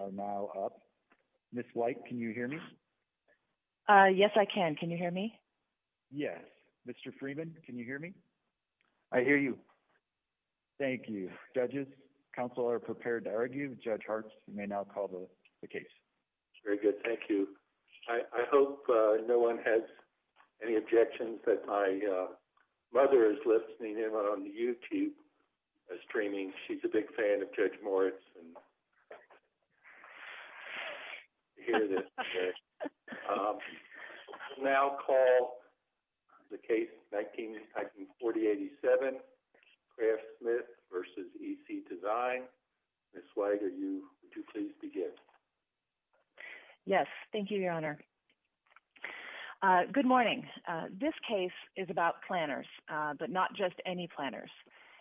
are now up. Ms. White can you hear me? Yes, I can. Can you hear me? Yes. Mr. Freeman, can you hear me? I hear you. Thank you. Judges, counsel are prepared to argue. Judge Hart may now call the case. Very good. Thank you. I hope no one has any objections that my mother is listening in on the YouTube streaming. She's a big fan of Judge Moritz. And now call the case 1947 Craft Smith v. EC Design. Ms. White, would you please begin? Yes. Thank you, Your Honor. Good morning. This case is about planners, but not just any planners.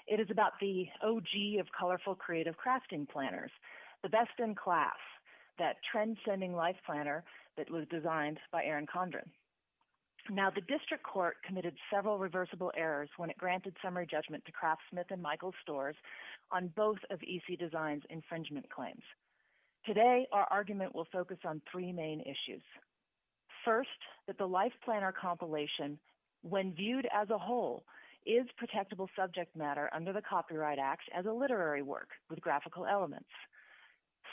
It is about the OG of colorful creative crafting planners, the best in class, that transcending life planner that was designed by Aaron Condren. Now the district court committed several reversible errors when it granted summary judgment to Craft Smith and Michael Storrs on both of EC Design's infringement claims. Today, our argument will focus on three main issues. First, that the life planner compilation, when viewed as a whole, is protectable subject matter under the Copyright Act as a literary work with graphical elements.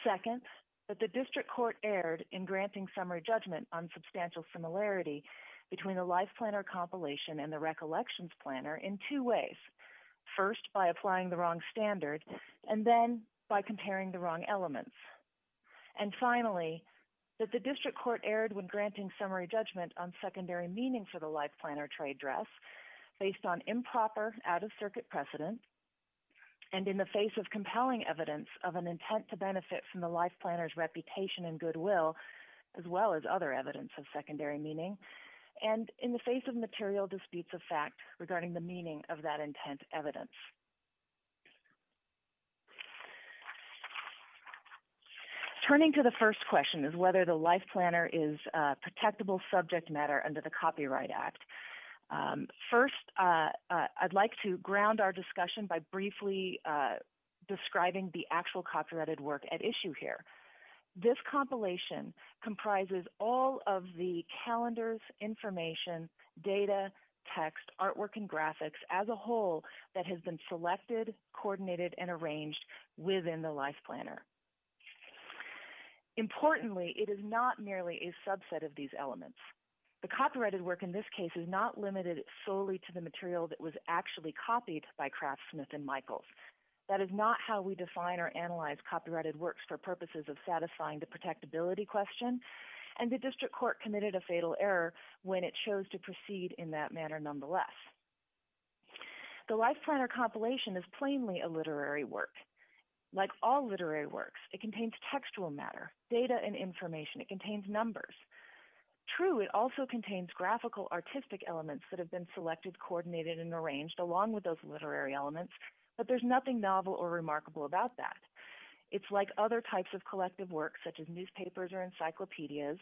Second, that the district court erred in granting summary judgment on substantial similarity between the life planner compilation and the recollections planner in two ways. First, by applying the wrong standard, and then by comparing the wrong elements. And finally, that the district court erred when granting summary judgment on secondary meaning for the life planner trade dress, based on improper, out-of-circuit precedent, and in the face of compelling evidence of an intent to benefit from the life planner's reputation and goodwill, as well as other evidence of secondary meaning, and in the face of material disputes of fact regarding the meaning of that intent evidence. Turning to the first question is whether the life planner is a protectable subject matter under the Copyright Act. First, I'd like to ground our discussion by briefly describing the actual copyrighted work at issue here. This compilation comprises all of the that has been selected, coordinated, and arranged within the life planner. Importantly, it is not merely a subset of these elements. The copyrighted work in this case is not limited solely to the material that was actually copied by Craftsmith and Michaels. That is not how we define or analyze copyrighted works for purposes of satisfying the protectability question, and the district court committed a fatal error when it chose to proceed in that manner nonetheless. The life planner compilation is plainly a literary work. Like all literary works, it contains textual matter, data, and information. It contains numbers. True, it also contains graphical, artistic elements that have been selected, coordinated, and arranged along with those literary elements, but there's nothing novel or remarkable about that. It's like other types of collective works, such as newspapers or encyclopedias,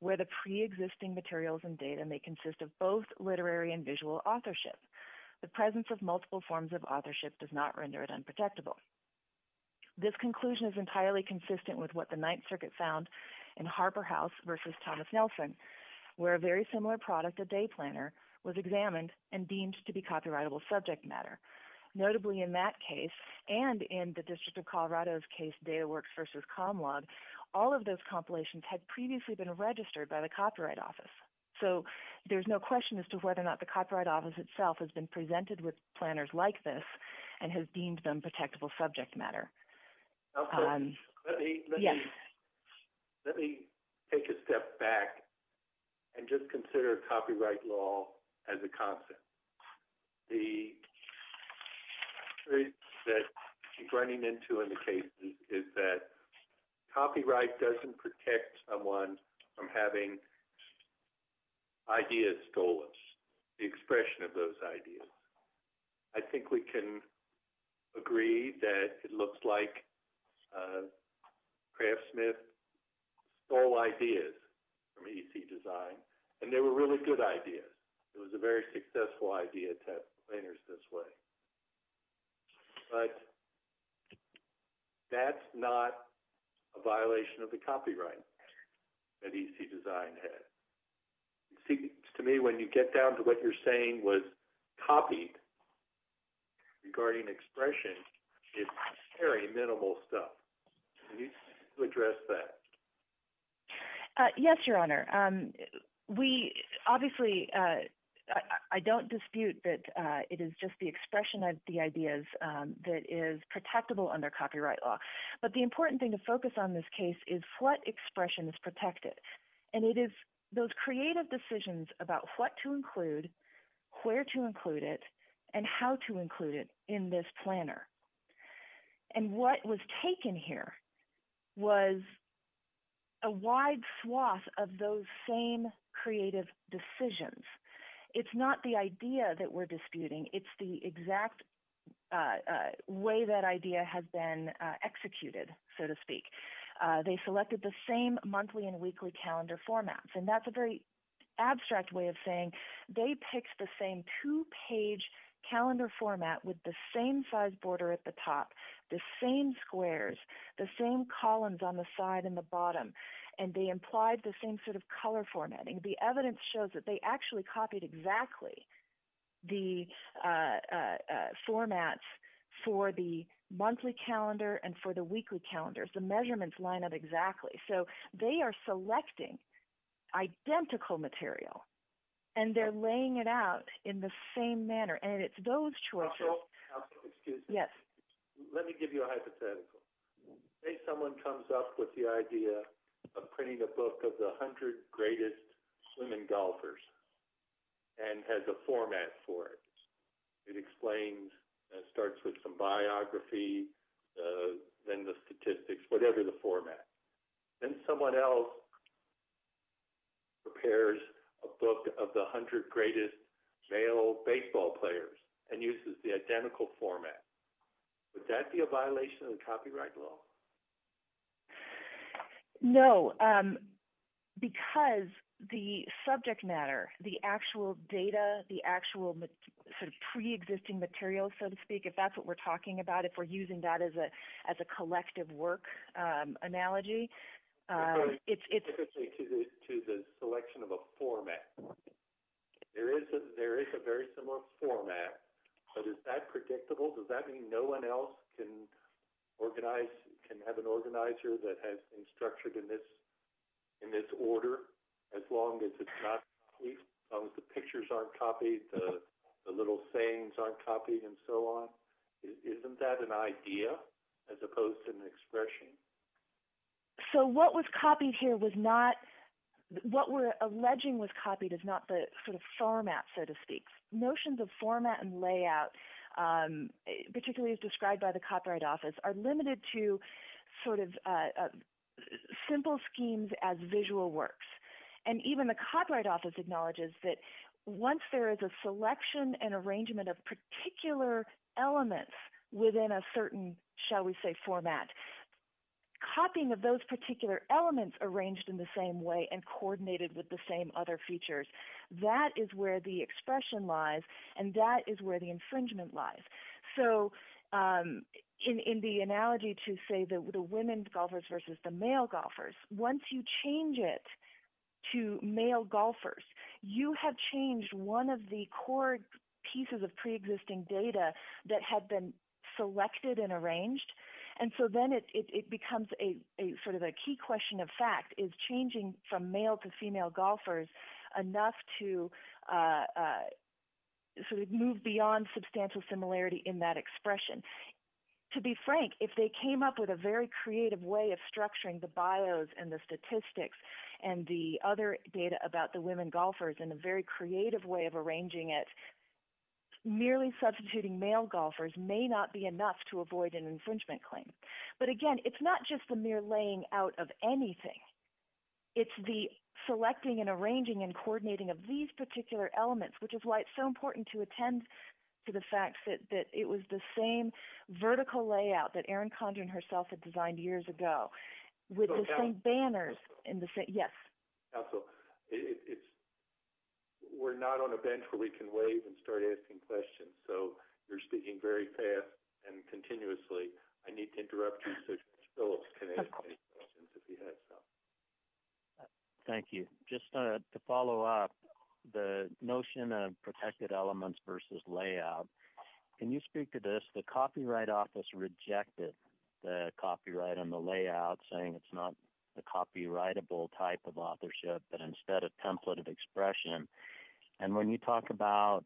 where the pre-existing materials and data may consist of both literary and visual authorship. The presence of multiple forms of authorship does not render it unprotectable. This conclusion is entirely consistent with what the Ninth Circuit found in Harper House v. Thomas Nelson, where a very similar product, a day planner, was examined and deemed to be copyrightable subject matter. Notably in that case and in the District of Colorado's case, DataWorks v. Comlog, all of those compilations had previously been registered by the Copyright Office, so there's no question as to whether or not the Copyright Office itself has been presented with planners like this and has deemed them protectable subject matter. Let me take a step back and just consider copyright law as a concept. The theory that I'm running into in the case is that copyright doesn't protect someone from having ideas stolen, the expression of those ideas. I think we can agree that it looks like planners this way, but that's not a violation of the copyright that EC Design had. You see, to me, when you get down to what you're saying was copied regarding expression, it's very minimal stuff. Can you address that? Yes, Your Honor. Obviously, I don't dispute that it is just the expression of the ideas that is protectable under copyright law, but the important thing to focus on this case is what expressions protect it, and it is those creative decisions about what to include, where to include it, and how to include it in this planner. What was taken here was a wide swath of those same creative decisions. It's not the idea that we're disputing. It's the exact way that idea has been executed, so to speak. They selected the same monthly and weekly calendar formats, and that's a very abstract way of saying they picked the same two-page calendar format with the same size border at the top, the same squares, the same columns on the side and the bottom, and they showed that they actually copied exactly the formats for the monthly calendar and for the weekly calendars. The measurements line up exactly, so they are selecting identical material, and they're laying it out in the same manner, and it's those choices. Counsel, excuse me. Yes. Let me give you a hypothetical. Say someone comes up with the idea of printing a book of the 100 greatest swimming golfers and has a format for it. It explains and starts with some biography, then the statistics, whatever the format. Then someone else prepares a book of the 100 greatest male baseball players and uses the identical format. Would that be a violation of the copyright law? No, because the subject matter, the actual data, the actual sort of pre-existing material, so to speak, if that's what we're talking about, if we're using that as a collective work analogy, it's... To the selection of a format. There is a very similar format, but is that predictable? Does that mean no one else can organize, can have an organizer that has been structured in this in this order as long as it's not, as long as the pictures aren't copied, the little sayings aren't copied, and so on? Isn't that an idea as opposed to an expression? So what was copied here was not, what we're alleging was copied is not the sort of format, so to speak. Notions of format and particularly as described by the Copyright Office are limited to sort of simple schemes as visual works, and even the Copyright Office acknowledges that once there is a selection and arrangement of particular elements within a certain, shall we say, format, copying of those particular elements arranged in the same way and coordinated with the same other features, that is where the expression lies, and that is where the infringement lies. So in the analogy to say the women golfers versus the male golfers, once you change it to male golfers, you have changed one of the core pieces of pre-existing data that had been selected and arranged, and so then it becomes a sort of a key question of fact, is changing from male to female golfers enough to sort of move beyond substantial similarity in that expression? To be frank, if they came up with a very creative way of structuring the bios and the statistics and the other data about the women golfers in a very creative way of arranging it, merely substituting male golfers may not be enough to avoid an infringement of anything. It's the selecting and arranging and coordinating of these particular elements which is why it's so important to attend to the fact that it was the same vertical layout that Erin Condren herself had designed years ago, with the same banners in the... Yes? Also, we're not on a bench where we can wave and start asking questions, so you're speaking very fast and continuously. I need to interrupt you so that Phillips can ask any questions if he has some. Thank you. Just to follow up, the notion of protected elements versus layout, can you speak to this? The Copyright Office rejected the copyright on the layout, saying it's not a copyrightable type of authorship, but instead a template of expression, and when you talk about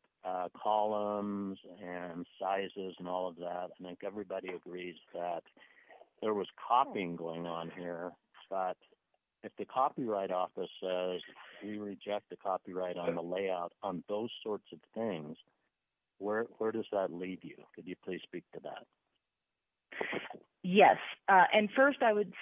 columns and sizes and all of that, I think everybody agrees that there was copying going on here, but if the Copyright Office says we reject the copyright on the layout on those sorts of things, where does that leave you? Could you please speak to that? Yes, and first I would...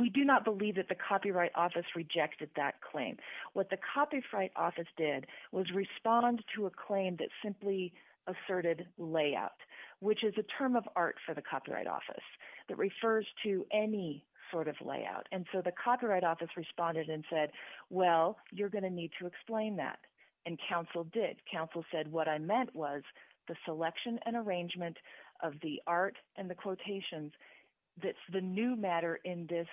We do not believe that the Copyright Office rejected that claim. What the Copyright Office did was respond to a claim that simply asserted layout, which is a term of art for the Copyright Office that refers to any sort of layout, and so the Copyright Office responded and said, well, you're going to need to explain that, and counsel did. Counsel said what I meant was the selection and arrangement of the art and the quotations that's the new matter in this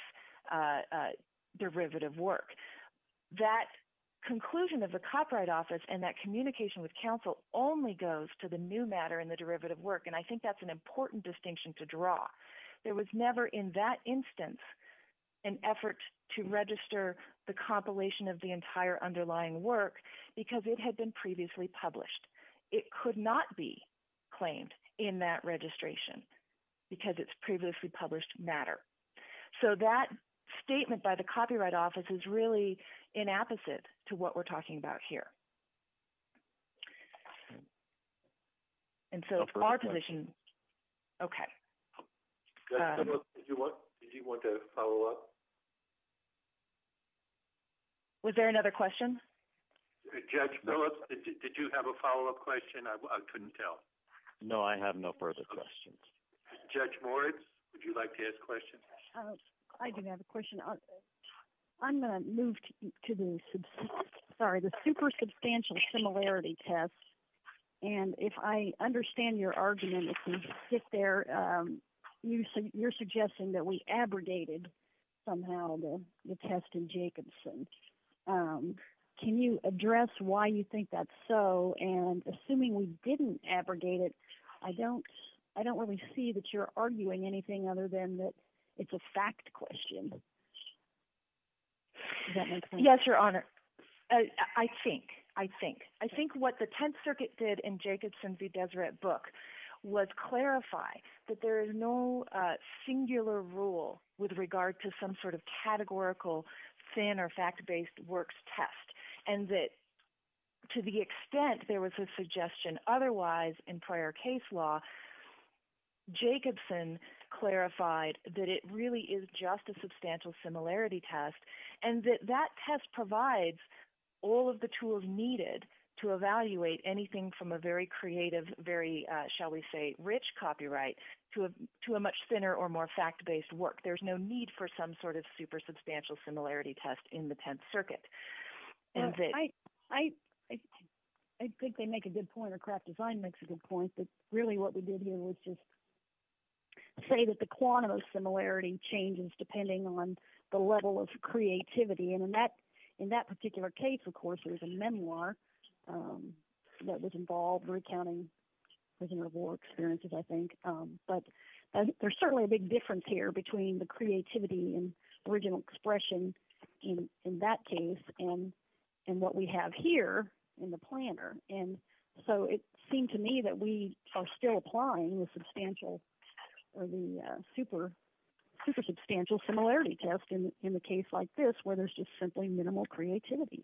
conclusion of the Copyright Office and that communication with counsel only goes to the new matter in the derivative work, and I think that's an important distinction to draw. There was never in that instance an effort to register the compilation of the entire underlying work because it had been previously published. It could not be claimed in that registration because it's previously published matter, so that statement by the Copyright Office is really in opposite to what we're talking about here, and so our position... Okay. Did you want to follow up? Was there another question? Judge Phillips, did you have a follow-up question? I couldn't tell. No, I have no further questions. Judge Moritz, would you like to ask questions? I do have a question. I'm going to move to the super substantial similarity test, and if I understand your argument, if you sit there, you're suggesting that we abrogated somehow the test in Jacobson. Can you address why you think that's so, and assuming we didn't abrogate it, I don't really see that you're arguing anything other than that it's a fact question. Does that make sense? Yes, Your Honor. I think. I think. I think what the Tenth Circuit did in Jacobson v. Deseret Book was clarify that there is no singular rule with regard to some sort of categorical, thin or fact-based works test, and that to the extent there was a suggestion otherwise in prior case law, Jacobson clarified that it really is just a substantial similarity test, and that that test provides all of the tools needed to evaluate anything from a very creative, very, shall we say, rich copyright to a much thinner or more fact-based work. There's no need for some sort of super substantial similarity test in the Tenth Circuit. I think they make a good point, or Kraft Design makes a good point, that really what we did here was just say that the quantum of similarity changes depending on the level of creativity, and in that particular case, of course, there was a memoir that was involved recounting prisoner of war experiences, I think, but there's certainly a big difference here between the original expression in that case and what we have here in the planner, and so it seemed to me that we are still applying the substantial or the super super substantial similarity test in the case like this, where there's just simply minimal creativity.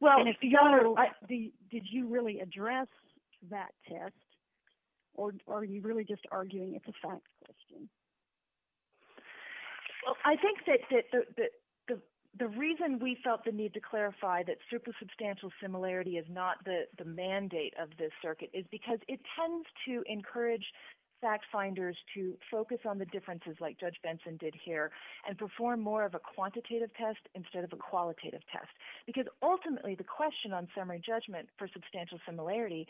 Well, did you really address that test, or are you really just arguing it's a fact question? Well, I think that the reason we felt the need to clarify that super substantial similarity is not the mandate of this circuit is because it tends to encourage fact finders to focus on the differences like Judge Benson did here and perform more of a quantitative test instead of a qualitative test, because ultimately the question on summary judgment for substantial similarity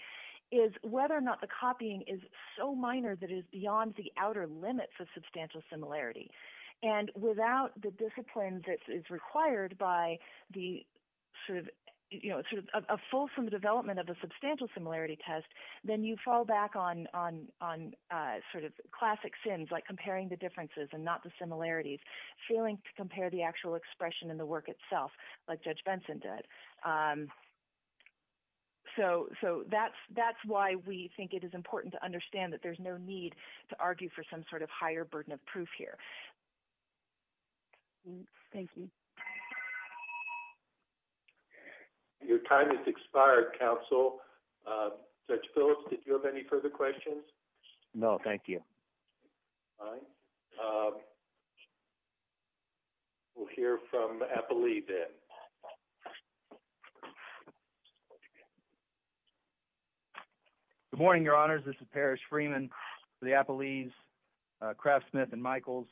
is whether or not the copying is so minor that it is beyond the outer limits of substantial similarity, and without the discipline that is required by the sort of, you know, sort of a fulsome development of a substantial similarity test, then you fall back on sort of classic sins like comparing the differences and not the similarities, failing to compare the actual expression in the work itself like Judge Benson did. So that's why we think it is important to understand that there's no need to argue for some sort of higher burden of proof here. Thank you. Your time has expired, counsel. Judge Phillips, did you have any further questions? No, thank you. Fine. We'll hear from Appali then. Good morning, Your Honors. This is Parrish Freeman for the Appalese, Craftsmith, and Michaels.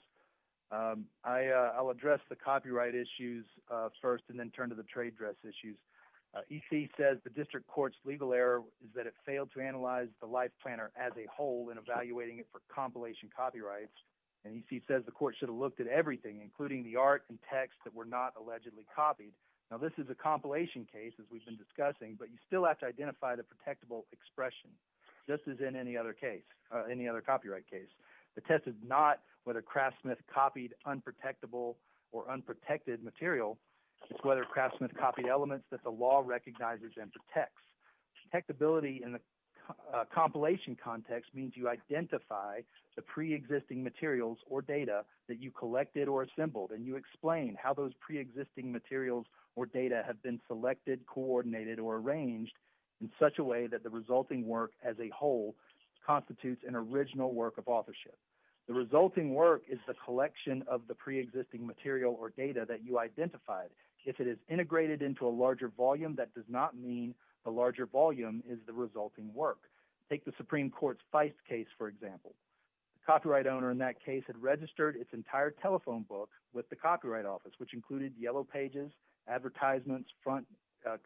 I'll address the copyright issues first and then turn to the trade dress issues. EC says the district court's legal error is that it failed to analyze the life planner as a whole in evaluating it for compilation copyrights, and EC says the court should have looked at everything, including the art and text that were not allegedly copied. Now, this is a compilation case, as we've been discussing, but you still have to identify the protectable expression, just as in any other case, any other copyright case. The test is not whether Craftsmith copied unprotectable or unprotected material. It's whether Craftsmith copied elements that the law recognizes and protects. Protectability in the compilation context means you identify the pre-existing materials or data that you collected or assembled, and you explain how those pre-existing materials or data have been selected, coordinated, or arranged in such a way that the resulting work as a whole constitutes an original work of authorship. The resulting work is the collection of the pre-existing material or data that you identified. If it is integrated into a larger volume, that does not mean the larger volume is the resulting work. Take the Supreme Court. The copyright owner in that case had registered its entire telephone book with the Copyright Office, which included yellow pages, advertisements, front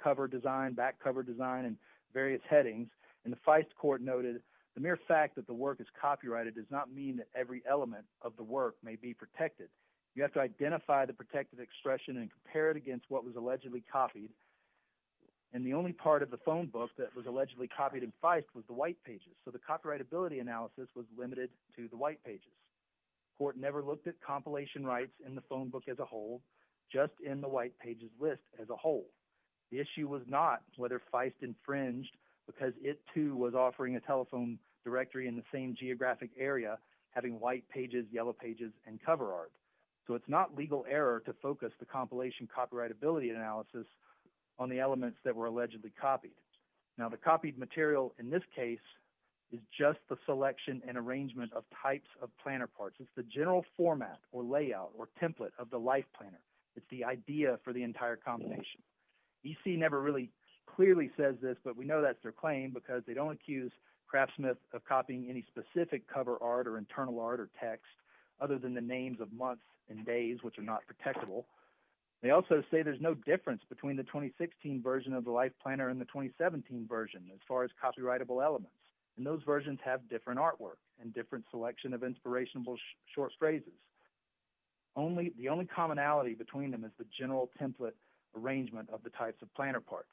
cover design, back cover design, and various headings. And the Feist Court noted the mere fact that the work is copyrighted does not mean that every element of the work may be protected. You have to identify the protective expression and compare it against what was allegedly copied. And the only part of the phone book that was allegedly copied in Feist was the white pages, so the copyrightability analysis was limited to the white pages. Court never looked at compilation rights in the phone book as a whole, just in the white pages list as a whole. The issue was not whether Feist infringed because it too was offering a telephone directory in the same geographic area having white pages, yellow pages, and cover art. So it's not legal error to focus the compilation copyrightability analysis on the elements that were allegedly copied. Now the copied material in this case is just the selection and arrangement of types of planner parts. It's the general format or layout or template of the Life Planner. It's the idea for the entire combination. EC never really clearly says this, but we know that's their claim because they don't accuse CraftSmith of copying any specific cover art or internal art or text other than the names of months and days which are not protectable. They also say there's no difference between the 2016 version of the Life Planner and the 2017 version as far as copyrightable elements, and those versions have different artwork and different selection of inspirational short phrases. The only commonality between them is the general template arrangement of the types of planner parts.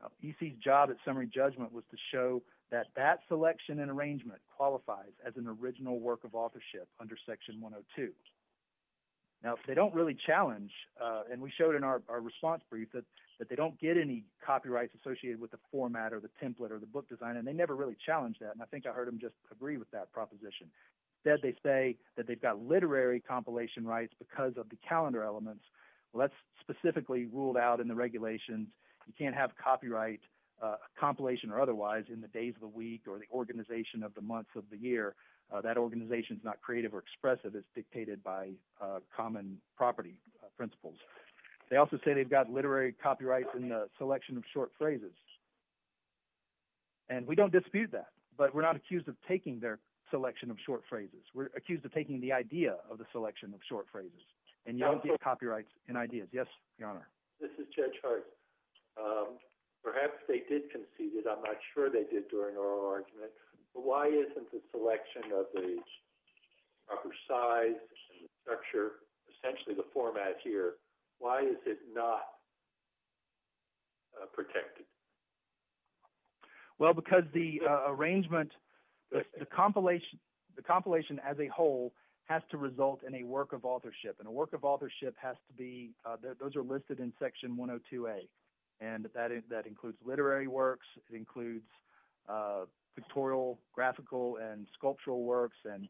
Now EC's job at summary judgment was to show that that selection and arrangement qualifies as an original work of authorship under section 102. Now if they don't really challenge, and we showed in our response brief that they don't get any copyrights associated with the format or the template or the book design, and they never really challenged that, and I think I heard them just agree with that proposition. Instead they say that they've got literary compilation rights because of the calendar elements. Well that's specifically ruled out in the regulations. You can't have copyright compilation or otherwise in the days of the week or the organization of the months of the year. That organization is not creative or expressive. It's dictated by common property principles. They also say they've got literary copyrights in the selection of short phrases, and we don't dispute that, but we're not accused of taking their selection of short phrases. We're accused of taking the idea of the selection of short phrases, and you don't get copyrights in ideas. Yes, Your Honor? This is Judge Hart. Perhaps they did concede it. I'm not sure they did during our argument, but why isn't the selection of the proper size and structure, essentially the format here, why is it not protected? Well because the arrangement, the compilation as a whole has to result in a work of authorship, and a work of authorship has to be, those are listed in section 102A, and that includes literary works. It includes pictorial, graphical, and sculptural works, and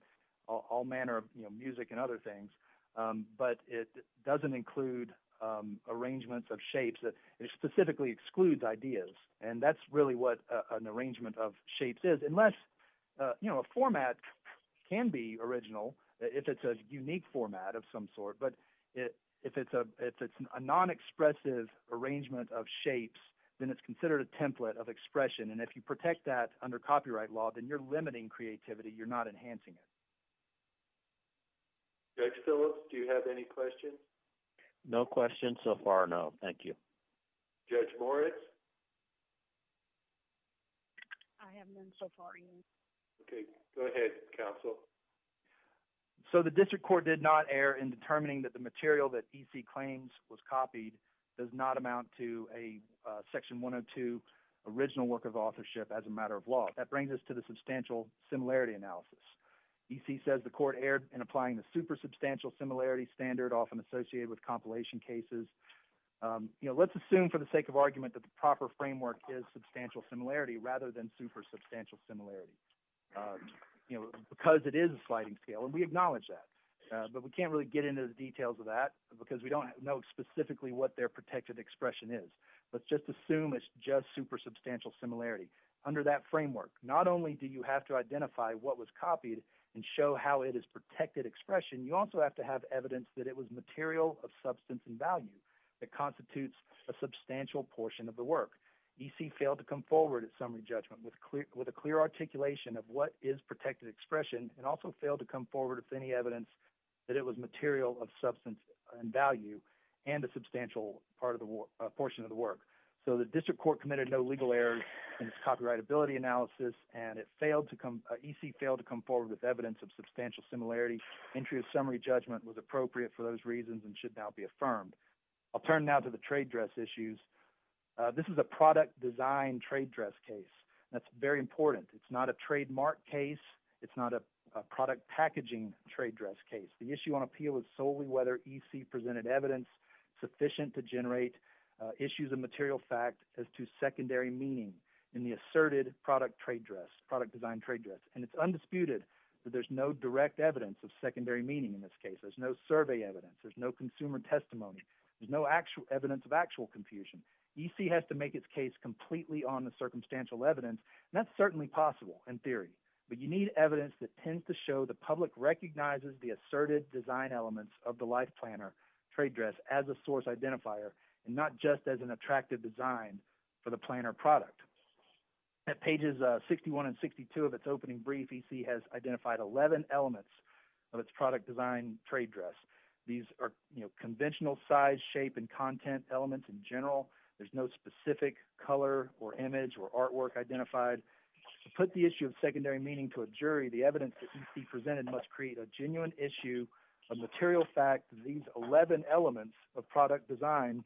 all manner of music and other things, but it doesn't include arrangements of shapes. It specifically excludes ideas, and that's really what an arrangement of shapes is, unless a format can be original if it's a unique format of some sort, but if it's a non-expressive arrangement of shapes, then it's considered a template of expression, and if you protect that under copyright law, then you're limiting creativity. You're not enhancing it. Judge Phillips, do you have any questions? No questions so far, no. Thank you. Judge Moritz? I have none so far. Okay, go ahead, counsel. So the District Court did not err in determining that the material that E.C. claims was copied does not amount to a section 102 original work of authorship as a matter of law. That brings us to the substantial similarity analysis. E.C. says the court erred in applying the super substantial similarity standard often associated with compilation cases. Let's assume for the sake of argument that the proper framework is substantial similarity rather than super substantial similarity because it is a sliding scale, and we acknowledge that, but we can't really get into the details of that because we don't know specifically what their protected expression is. Let's just assume it's just super substantial similarity. Under that framework, not only do you have to identify what was copied and show how it is protected expression, you also have to have evidence that it was material of substance and value that constitutes a substantial portion of the work. E.C. failed to come forward at summary judgment with a clear articulation of what is protected expression and also failed to come forward with any evidence that it was material of substance and value and a substantial portion of the work. So the District Court committed no legal errors in its copyrightability analysis, and E.C. failed to come forward with evidence of substantial similarity. Entry of summary judgment was appropriate for those reasons and should now be affirmed. I'll turn now to the trade dress issues. This is a product design trade dress case. That's very important. It's not a trademark case. It's not a product packaging trade dress case. The issue on appeal is solely whether E.C. presented evidence sufficient to generate issues of material fact as to secondary meaning in the asserted product trade dress, product design trade dress, and it's undisputed that there's no direct evidence of secondary meaning in this case. There's no survey evidence. There's no consumer testimony. There's no actual evidence of actual confusion. E.C. has to make its case completely on the circumstantial evidence, and that's certainly possible in theory, but you need evidence that tends to show the public recognizes the asserted design elements of the life planner trade dress as a source identifier and not just as an attractive design for the planner product. At pages 61 and 62 of its opening brief, E.C. has identified 11 elements of its product design trade dress. These are conventional size, shape, and content elements in general. There's no specific color or image or artwork identified. To put the issue of secondary meaning to a jury, the evidence that E.C. presented must create a genuine issue of material fact that these 11 elements of product design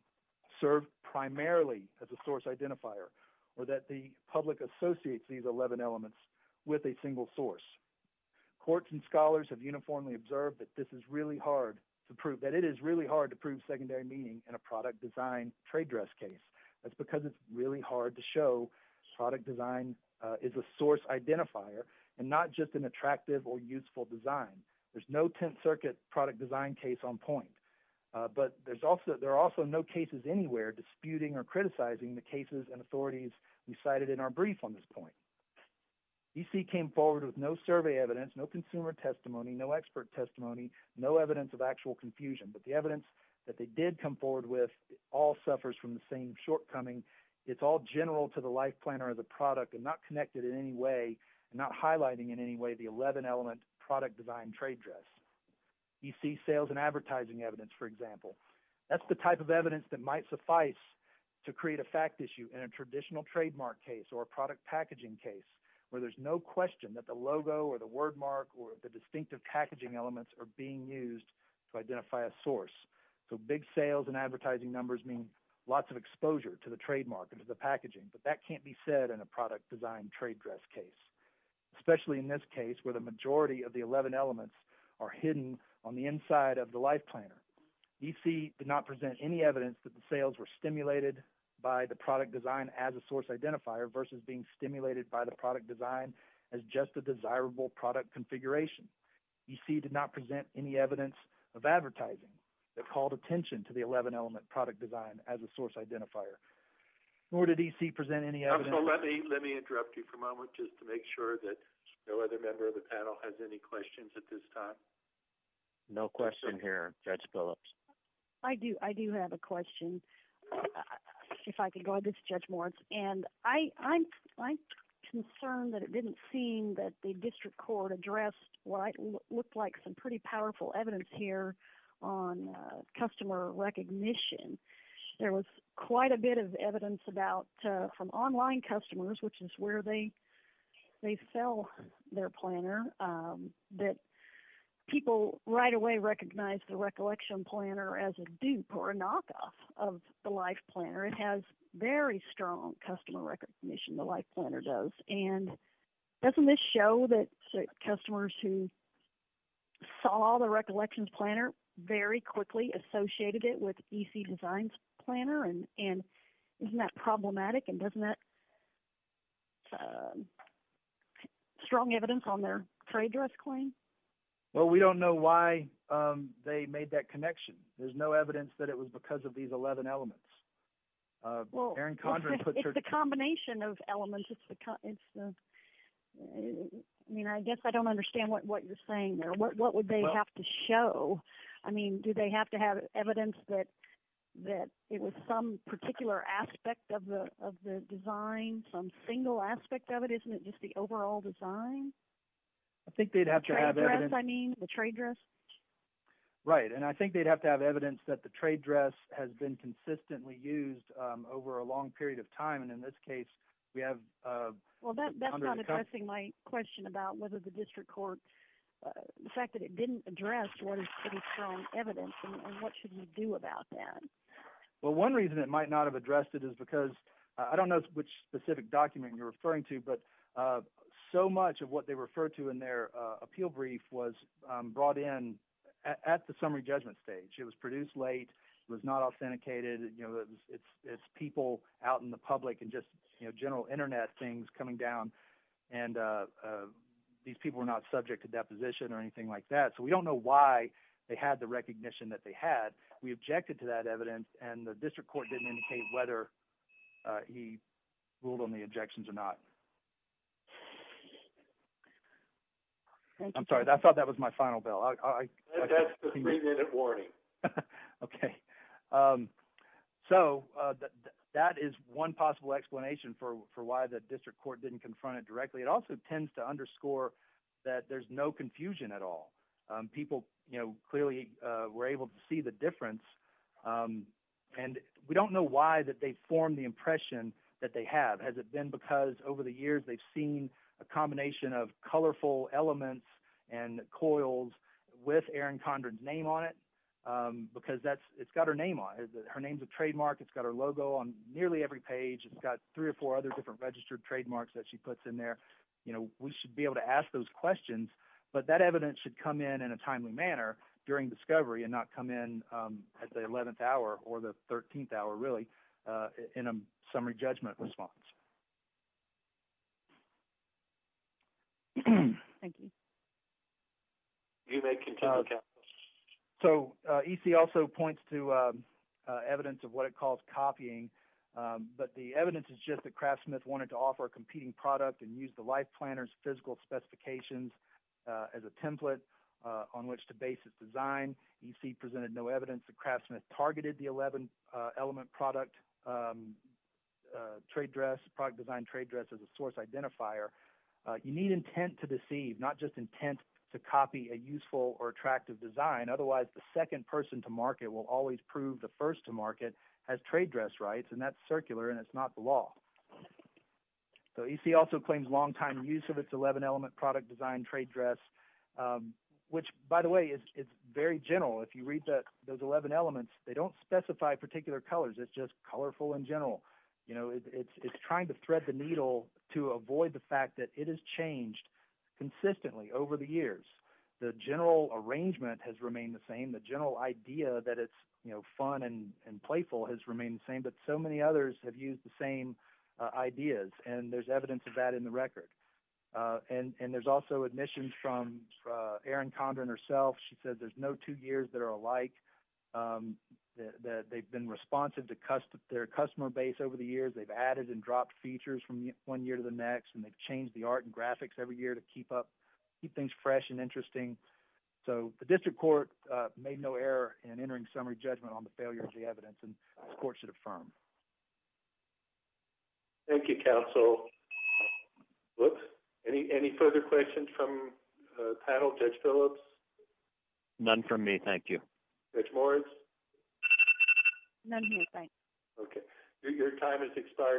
serve primarily as a source identifier or that the public associates these 11 elements with a single source. Courts and scholars have uniformly observed that this is really hard to prove, that it is really hard to prove secondary meaning in a product design trade dress case. That's because it's really hard to show product design is a source identifier and not just an attractive or useful design. There's no 10th Circuit product design case on point, but there are also no cases anywhere disputing or criticizing the cases and authorities we cited in our brief on this point. E.C. came forward with no survey evidence, no consumer testimony, no expert testimony, no evidence of actual confusion, but the evidence that they did come forward with all suffers from the same shortcoming. It's all general to the life planner of the product and not connected in any way and not highlighting in any way the 11 element product design trade dress. E.C. sales and advertising evidence, for example. That's the type of evidence that might suffice to create a fact issue in a traditional trademark case or product packaging case where there's no question that the logo or the word mark or the distinctive packaging elements are being used to identify a source. So big sales and advertising numbers mean lots of exposure to the trademark and to the packaging, but that can't be said in a product design trade dress case, especially in this case where the majority of the 11 elements are hidden on the inside of the life planner. E.C. did not present any evidence that the sales were stimulated by the product design as a source identifier versus being stimulated by the product design as just a desirable product configuration. E.C. did not present any evidence of advertising that called attention to the 11 element product design as a source identifier, nor did E.C. present any evidence. Let me interrupt you for a moment just to make sure that no other member of the panel has any questions at this time. No question here, Judge Phillips. I do. I do have a question. If I could go ahead, this is Judge Moritz. And I'm concerned that it didn't seem that the district court addressed what looked like some pretty powerful evidence here on customer recognition. There was quite a bit of evidence about from online customers, which is where they sell their planner, that people right away recognize the recollection planner as a dupe or a knockoff of the life planner. It has very strong customer recognition, the life planner does. And doesn't this show that customers who saw the recollections planner very quickly associated it with E.C. designs planner? And isn't that problematic? And doesn't that strong evidence on their trade dress claim? Well, we don't know why they made that connection. There's no evidence that it was because of these 11 elements. Well, it's the combination of elements. I mean, I guess I don't understand what you're saying there. What would they have to show? I mean, do they have to have evidence that it was some particular aspect of the design, some single aspect of it? Isn't it just the overall design? I think they'd have to have evidence. I mean, the trade dress? Right. And I think they'd have to have evidence that the trade dress has been consistently used over a long period of time. And in this case, we have- Well, that's not addressing my question about whether the district court, the fact that it didn't address what is pretty strong evidence and what should you do about that? Well, one reason it might not have addressed it is because, I don't know which specific document you're referring to, but so much of what they refer to in their appeal brief was brought in at the summary judgment stage. It was produced late. It was not authenticated. It's people out in the public and just general internet things coming down. And these people were not subject to deposition or anything like that. So we don't know why they had the recognition that they had. We objected to that evidence and the district court didn't indicate whether he ruled on the objections or not. Thank you. I'm sorry. I thought that was my final bell. That's the three-minute warning. Okay. So that is one possible explanation for why the district court didn't confront it directly. It also tends to underscore that there's no confusion at all. People clearly were able to see the difference. And we don't know why that they formed the impression that they have. Has it been because over the years they've seen a combination of colorful elements and coils with Erin Condren's name on it? Because it's got her name on it. Her name's a trademark. It's got her logo on nearly every page. It's got three or four other different registered trademarks that she puts in there. We should be able to ask those questions, but that evidence should come in in a timely manner during discovery and not come in at the 11th hour or the 13th hour, in a summary judgment response. Thank you. So EC also points to evidence of what it calls copying, but the evidence is just that Craftsmith wanted to offer a competing product and use the life planner's physical specifications as a template on which to base its design. EC presented no evidence that Craftsmith targeted the 11-element product design trade dress as a source identifier. You need intent to deceive, not just intent to copy a useful or attractive design. Otherwise, the second person to market will always prove the first to market has trade dress rights, and that's circular, and it's not the law. So EC also claims longtime use of its 11-element product design trade dress, which, by the way, is very general. If you read those 11 elements, they don't specify particular colors. It's just colorful and general. It's trying to thread the needle to avoid the fact that it has changed consistently over the years. The general arrangement has remained the same. The general idea that it's fun and playful has remained the same, but so many others have used the same ideas, and there's evidence of that in the record. And there's also admissions from Erin Condren herself. She said there's no two years that are alike. They've been responsive to their customer base over the years. They've added and dropped features from one year to the next, and they've changed the art and graphics every year to keep things fresh and interesting. So the district court made no error in entering summary judgment on the failure of the evidence, and this court should affirm. Thank you, counsel. Whoops. Any further questions from the panel? Judge Phillips? None from me. Thank you. Judge Moritz? None here. Thanks. Okay. Your time has expired.